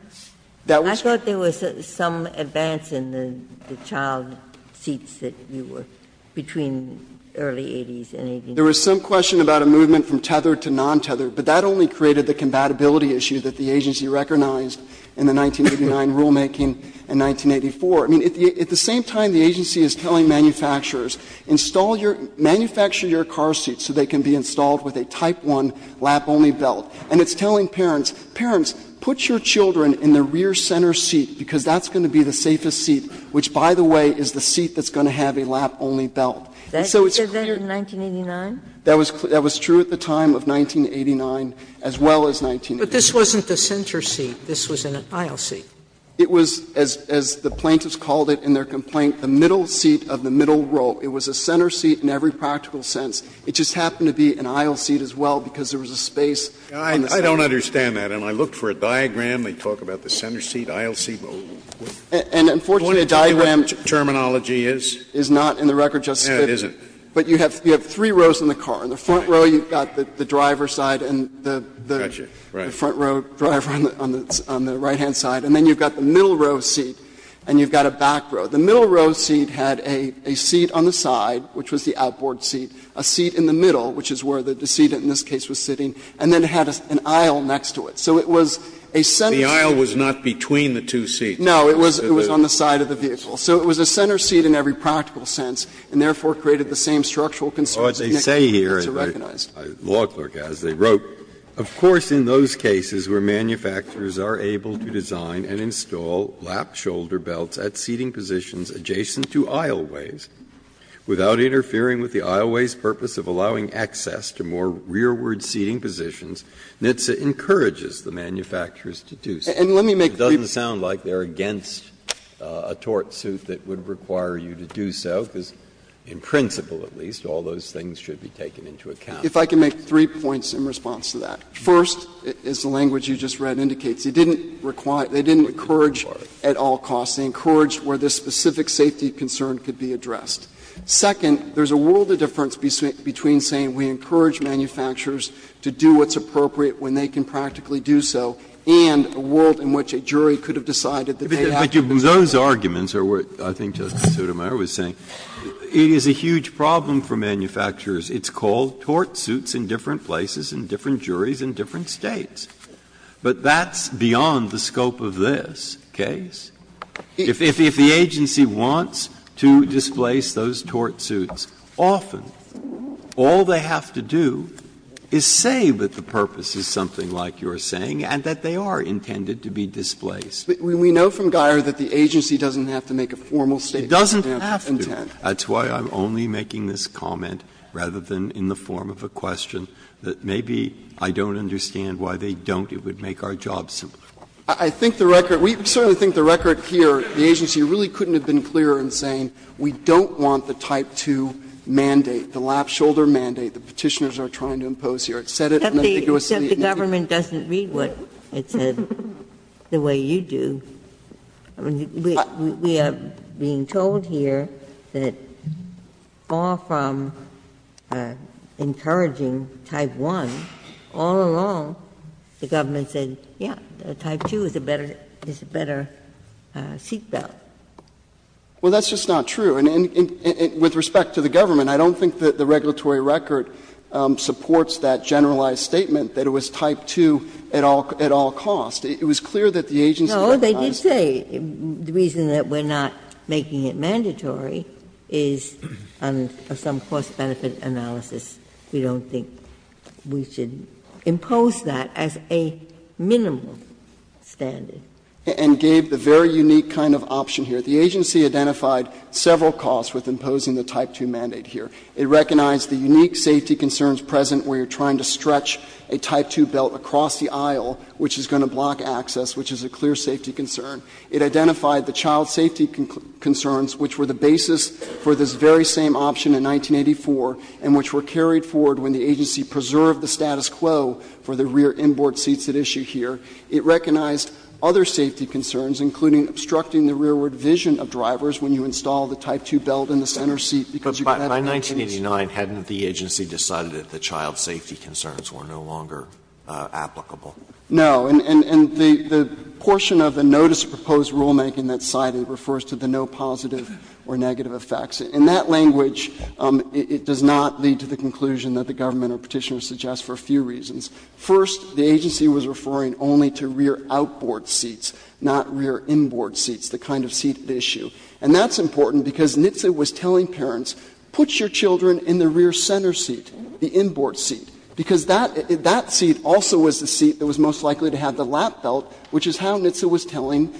But that was true in 1989? I thought there was some advance in the child seats that you were between early 1980s and 1989. There was some question about a movement from tethered to non-tethered, but that only created the compatibility issue that the agency recognized in the 1989 rulemaking in 1984. I mean, at the same time, the agency is telling manufacturers, install your – manufacture your car seats so they can be installed with a type 1 lap-only belt. And it's telling parents, parents, put your children in the rear center seat, because that's going to be the safest seat, which, by the way, is the seat that's going to have a lap-only belt. And so it's clear. Sotomayor, did they say that in 1989? That was true at the time of 1989 as well as 1989. But this wasn't the center seat. This was an aisle seat. It was, as the plaintiffs called it in their complaint, the middle seat of the middle row. It was a center seat in every practical sense. It just happened to be an aisle seat as well because there was a space on the side. I don't understand that. And I looked for a diagram. They talk about the center seat, aisle seat. And unfortunately, the diagram is not in the record, Justice Sotomayor. But you have three rows in the car. In the front row, you've got the driver's side and the front row driver on the right-hand side. And then you've got the middle row seat and you've got a back row. The middle row seat had a seat on the side, which was the outboard seat, a seat in the middle, which is where the seat in this case was sitting, and then it had an aisle next to it. So it was a center seat. The aisle was not between the two seats. No, it was on the side of the vehicle. So it was a center seat in every practical sense and therefore created the same structural concerns that NHTSA recognized. Breyer, as they wrote, Of course, in those cases where manufacturers are able to design and install lap-shoulder belts at seating positions adjacent to aisleways without interfering with the aisleways' purpose of allowing access to more rearward seating positions, NHTSA encourages the manufacturers to do so. And let me make clear. It doesn't sound like they're against a tort suit that would require you to do so, because in principle, at least, all those things should be taken into account. If I can make three points in response to that. First, as the language you just read indicates, it didn't require or encourage at all costs. It encouraged where this specific safety concern could be addressed. Second, there's a world of difference between saying we encourage manufacturers to do what's appropriate when they can practically do so and a world in which a jurisdiction or a jury could have decided that they have to do so. Breyer, those arguments are what I think Justice Sotomayor was saying. It is a huge problem for manufacturers. It's called tort suits in different places, in different juries, in different States. But that's beyond the scope of this case. If the agency wants to displace those tort suits, often all they have to do is say that the purpose is something like you're saying and that they are intended to be displaced. But we know from Geier that the agency doesn't have to make a formal statement of that intent. Breyer, that's why I'm only making this comment rather than in the form of a question that maybe I don't understand why they don't, it would make our job simpler. I think the record, we certainly think the record here, the agency really couldn't have been clearer in saying we don't want the Type 2 mandate, the lap-shoulder mandate the Petitioners are trying to impose here. It said it and I think it was the agency. But the government doesn't read what it said the way you do. We are being told here that far from encouraging Type 1, all along the government said, yeah, Type 2 is a better seat belt. Well, that's just not true. And with respect to the government, I don't think that the regulatory record supports that generalized statement that it was Type 2 at all costs. It was clear that the agency recognized that. Ginsburg. No, they did say the reason that we're not making it mandatory is on some cost-benefit analysis, we don't think we should impose that as a minimal standard. And gave the very unique kind of option here. The agency identified several costs with imposing the Type 2 mandate here. It recognized the unique safety concerns present where you're trying to stretch a Type 2 belt across the aisle, which is going to block access, which is a clear safety concern. It identified the child safety concerns, which were the basis for this very same option in 1984, and which were carried forward when the agency preserved the status quo for the rear inboard seats at issue here. It recognized other safety concerns, including obstructing the rearward vision of drivers when you install the Type 2 belt in the center seat because you can't Alito, in 1989, hadn't the agency decided that the child safety concerns were no longer applicable? No. And the portion of the notice proposed rulemaking that's cited refers to the no positive or negative effects. In that language, it does not lead to the conclusion that the government or Petitioner suggests for a few reasons. First, the agency was referring only to rear outboard seats, not rear inboard seats, the kind of seat at issue. And that's important because NHTSA was telling parents, put your children in the rear center seat, the inboard seat, because that seat also was the seat that was most likely to have the lap belt, which is how NHTSA was telling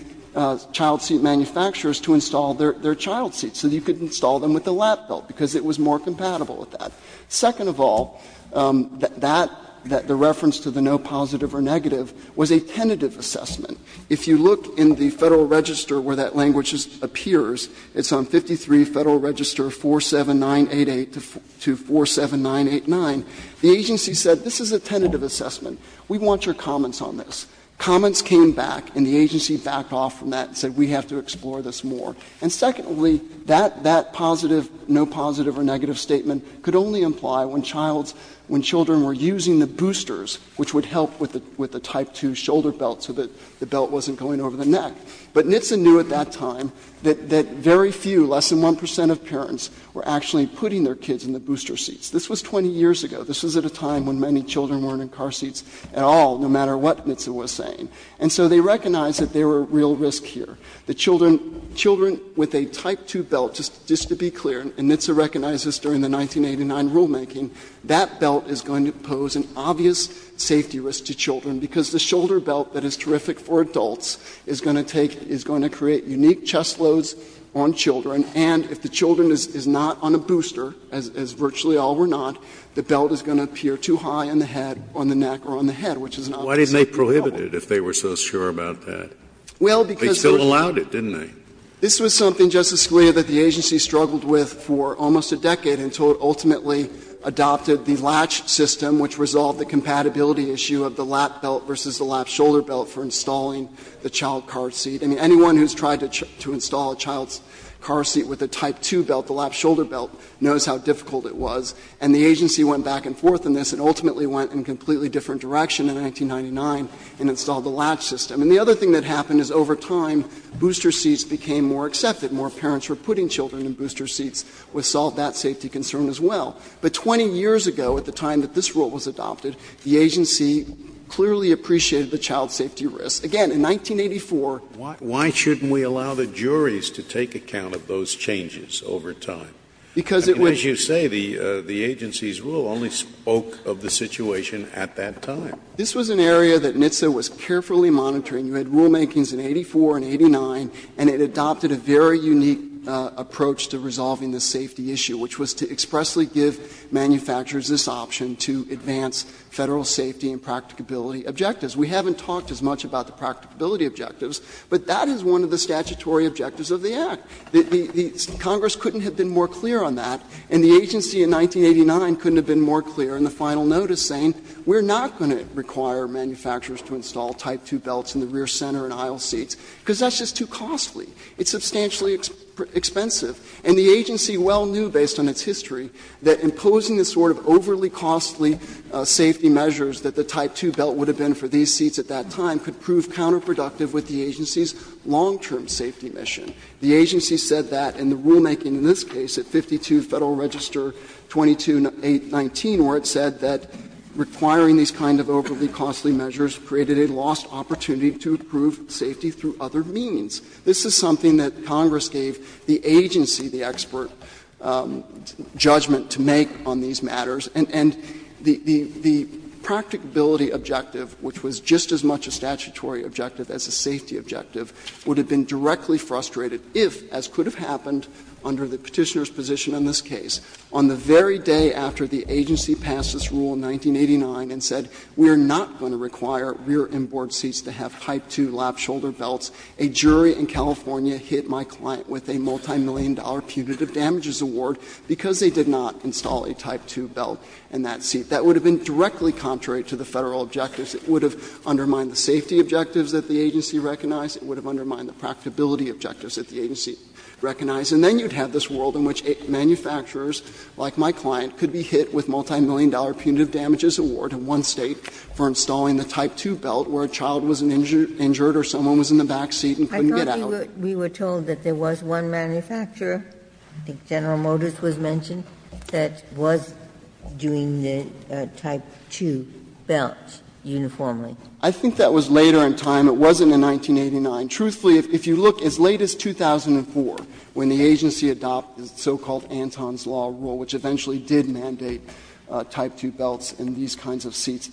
child seat manufacturers to install their child seats, so you could install them with the lap belt, because it was more compatible with that. Second of all, that the reference to the no positive or negative was a tentative assessment. If you look in the Federal Register where that language appears, it's on 53 Federal Register 47988 to 47989, the agency said this is a tentative assessment, we want your comments on this. Comments came back and the agency backed off from that and said we have to explore this more. And secondly, that positive, no positive or negative statement could only imply when child's – when children were using the boosters, which would help with the Type II shoulder belt so that the belt wasn't going over the neck. But NHTSA knew at that time that very few, less than 1 percent of parents, were actually putting their kids in the booster seats. This was 20 years ago. This was at a time when many children weren't in car seats at all, no matter what NHTSA was saying. And so they recognized that there were real risks here. The children with a Type II belt, just to be clear, and NHTSA recognized this during because the shoulder belt that is terrific for adults is going to take – is going to create unique chest loads on children, and if the children is not on a booster, as virtually all were not, the belt is going to appear too high on the head, on the neck, or on the head, which is not what you're looking for. Scalia. Why didn't they prohibit it, if they were so sure about that? They still allowed it, didn't they? Phillips. This was something, Justice Scalia, that the agency struggled with for almost a decade until it ultimately adopted the LATCH system, which resolved the compatibility issue of the LATCH belt versus the LATCH shoulder belt for installing the child car seat. I mean, anyone who's tried to install a child's car seat with a Type II belt, the LATCH shoulder belt, knows how difficult it was. And the agency went back and forth on this, and ultimately went in a completely different direction in 1999 and installed the LATCH system. And the other thing that happened is over time, booster seats became more accepted. More parents were putting children in booster seats. We solved that safety concern as well. But 20 years ago, at the time that this rule was adopted, the agency clearly appreciated the child safety risk. Again, in 1984. Scalia, why shouldn't we allow the juries to take account of those changes over time? Because it would. And as you say, the agency's rule only spoke of the situation at that time. This was an area that NHTSA was carefully monitoring. You had rulemakings in 84 and 89, and it adopted a very unique approach to resolving the safety issue, which was to expressly give manufacturers this option to advance Federal safety and practicability objectives. We haven't talked as much about the practicability objectives, but that is one of the statutory objectives of the Act. The Congress couldn't have been more clear on that, and the agency in 1989 couldn't have been more clear in the final notice saying we're not going to require manufacturers to install Type II belts in the rear center and aisle seats, because that's just too costly. It's substantially expensive. And the agency well knew, based on its history, that imposing the sort of overly costly safety measures that the Type II belt would have been for these seats at that time could prove counterproductive with the agency's long-term safety mission. The agency said that in the rulemaking in this case at 52 Federal Register 2219, where it said that requiring these kind of overly costly measures created a lost opportunity to improve safety through other means. This is something that Congress gave the agency the expert judgment to make on these matters, and the practicability objective, which was just as much a statutory objective as a safety objective, would have been directly frustrated if, as could have happened under the Petitioner's position in this case, on the very day after the agency passed this rule in 1989 and said we're not going to require rear inboard seats to have Type II lap-shoulder belts, a jury in California hit my client with a multimillion-dollar punitive damages award because they did not install a Type II belt in that seat. That would have been directly contrary to the Federal objectives. It would have undermined the safety objectives that the agency recognized. It would have undermined the practicability objectives that the agency recognized. And then you'd have this world in which manufacturers like my client could be hit with multimillion-dollar punitive damages award in one State for installing the Type II belt where a child was injured or someone was in the back seat and couldn't get out. Ginsburg I thought we were told that there was one manufacturer, I think General Motors was mentioned, that was doing the Type II belts uniformly. I think that was later in time. It wasn't in 1989. Truthfully, if you look as late as 2004, when the agency adopted the so-called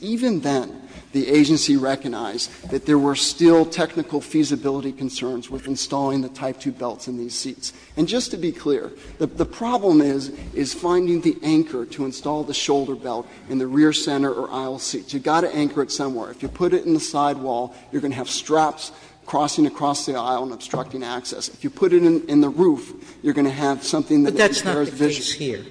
Even then, the agency recognized that there were still technical feasibility concerns with installing the Type II belts in these seats. And just to be clear, the problem is, is finding the anchor to install the shoulder belt in the rear center or aisle seats. You've got to anchor it somewhere. If you put it in the sidewall, you're going to have straps crossing across the aisle and obstructing access. If you put it in the roof, you're going to have something that is very visible. Sotomayor But that's not the case here.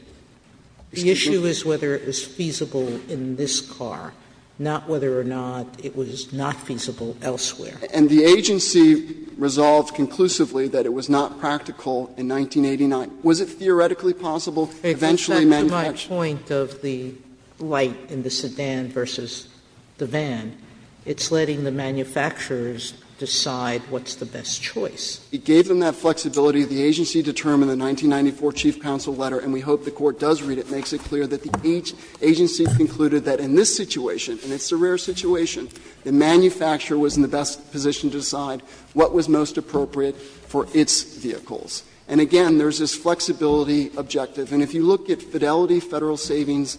The issue is whether it was feasible in this car. Not whether or not it was not feasible elsewhere. And the agency resolved conclusively that it was not practical in 1989. Was it theoretically possible eventually to manufacture? Sotomayor If you take my point of the light in the sedan versus the van, it's letting the manufacturers decide what's the best choice. It gave them that flexibility. The agency determined in the 1994 chief counsel letter, and we hope the Court does read it, makes it clear that the agency concluded that in this situation, and it's a rare situation, the manufacturer was in the best position to decide what was most appropriate for its vehicles. And again, there's this flexibility objective. And if you look at Fidelity Federal Savings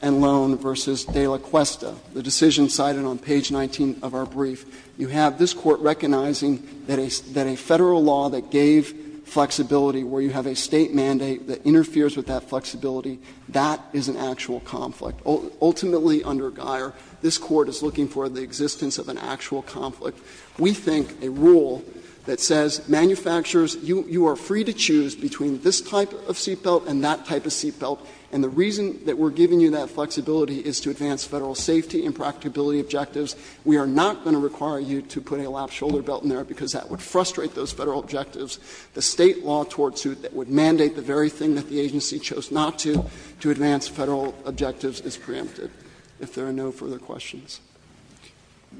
and Loan v. De La Cuesta, the decision cited on page 19 of our brief, you have this Court recognizing that a Federal law that gave flexibility where you have a State mandate that interferes with that flexibility that is an actual conflict. Ultimately, under Geier, this Court is looking for the existence of an actual conflict. We think a rule that says manufacturers, you are free to choose between this type of seat belt and that type of seat belt, and the reason that we're giving you that flexibility is to advance Federal safety and practicability objectives. We are not going to require you to put a lap-shoulder belt in there, because that would frustrate those Federal objectives. The State law towards you that would mandate the very thing that the agency chose not to, to advance Federal objectives, is preempted, if there are no further questions.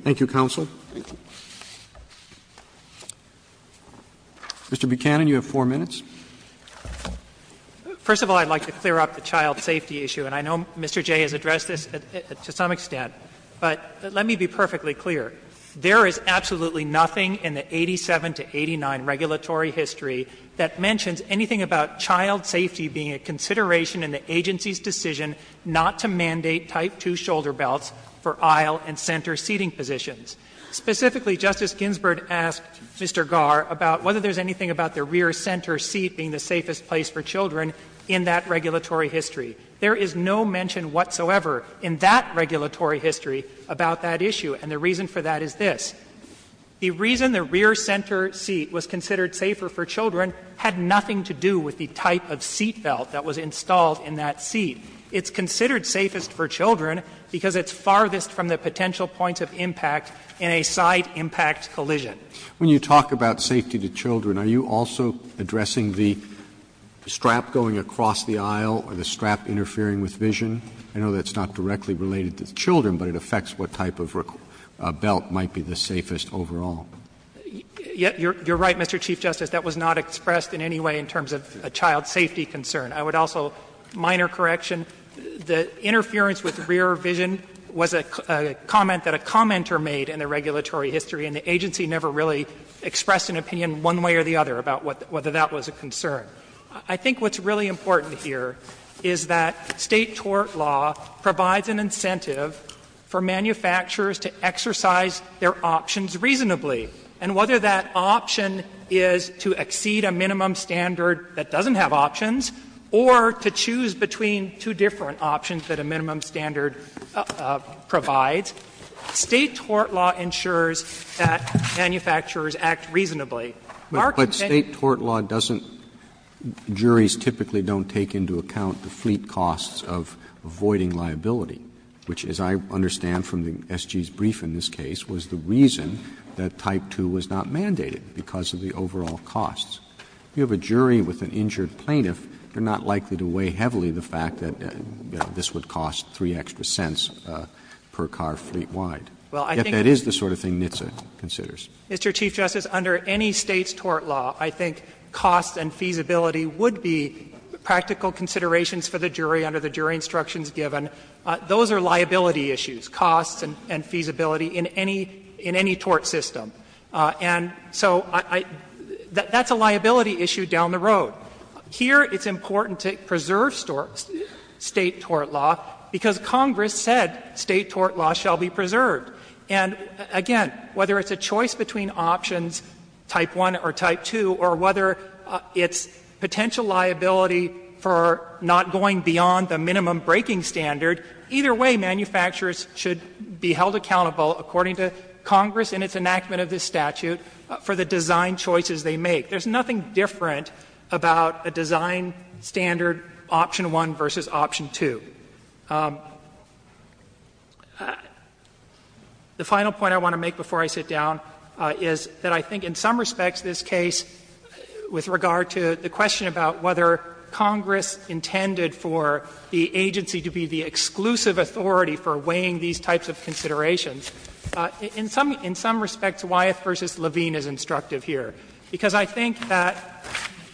Thank you, counsel. Thank you. Mr. Buchanan, you have 4 minutes. First of all, I'd like to clear up the child safety issue. And I know Mr. Jay has addressed this to some extent. But let me be perfectly clear. There is absolutely nothing in the 87 to 89 regulatory history that mentions anything about child safety being a consideration in the agency's decision not to mandate type 2 shoulder belts for aisle and center seating positions. Specifically, Justice Ginsburg asked Mr. Garr about whether there's anything about the rear center seat being the safest place for children in that regulatory history. There is no mention whatsoever in that regulatory history about that issue. And the reason for that is this. The reason the rear center seat was considered safer for children had nothing to do with the type of seat belt that was installed in that seat. It's considered safest for children because it's farthest from the potential points of impact in a side impact collision. When you talk about safety to children, are you also addressing the strap going across the aisle or the strap interfering with vision? I know that's not directly related to children, but it affects what type of belt might be the safest overall. You're right, Mr. Chief Justice. That was not expressed in any way in terms of a child safety concern. I would also, minor correction, the interference with rear vision was a comment that a commenter made in the regulatory history, and the agency never really expressed I think what's really important here is that State tort law provides an incentive for manufacturers to exercise their options reasonably. And whether that option is to exceed a minimum standard that doesn't have options or to choose between two different options that a minimum standard provides, State tort law ensures that manufacturers act reasonably. Our contention is that State tort law doesn't – juries typically don't take into account the fleet costs of avoiding liability, which, as I understand from the SG's brief in this case, was the reason that type 2 was not mandated, because of the overall costs. If you have a jury with an injured plaintiff, they're not likely to weigh heavily the fact that this would cost 3 extra cents per car fleet-wide. If that is the sort of thing NHTSA considers. Mr. Chief Justice, under any State's tort law, I think costs and feasibility would be practical considerations for the jury under the jury instructions given. Those are liability issues, costs and feasibility in any tort system. And so I – that's a liability issue down the road. Here it's important to preserve State tort law, because Congress said State tort law shall be preserved. And again, whether it's a choice between options type 1 or type 2, or whether it's potential liability for not going beyond the minimum breaking standard, either way manufacturers should be held accountable, according to Congress in its enactment of this statute, for the design choices they make. There's nothing different about a design standard option 1 versus option 2. The final point I want to make before I sit down is that I think in some respects this case, with regard to the question about whether Congress intended for the agency to be the exclusive authority for weighing these types of considerations, in some – in some respects Wyeth v. Levine is instructive here. Because I think that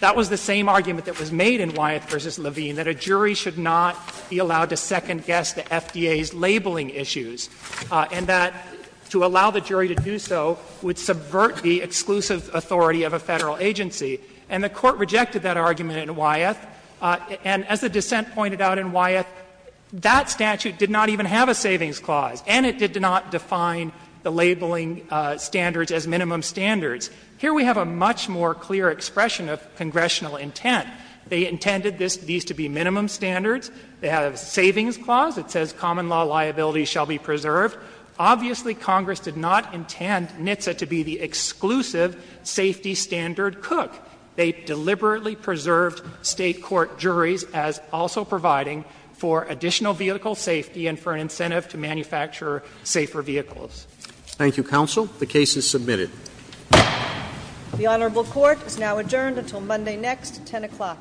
that was the same argument that was made in Wyeth v. Levine, that a jury should not be allowed to second-guess the FDA's labeling issues, and that to allow the jury to do so would subvert the exclusive authority of a Federal agency. And the Court rejected that argument in Wyeth. And as the dissent pointed out in Wyeth, that statute did not even have a savings clause, and it did not define the labeling standards as minimum standards. Here we have a much more clear expression of congressional intent. They intended this – these to be minimum standards. They have a savings clause. It says common law liability shall be preserved. Obviously, Congress did not intend NHTSA to be the exclusive safety standard cook. They deliberately preserved State court juries as also providing for additional vehicle safety and for an incentive to manufacture safer vehicles. Thank you, counsel. The case is submitted. The Honorable Court is now adjourned until Monday next, 10 o'clock.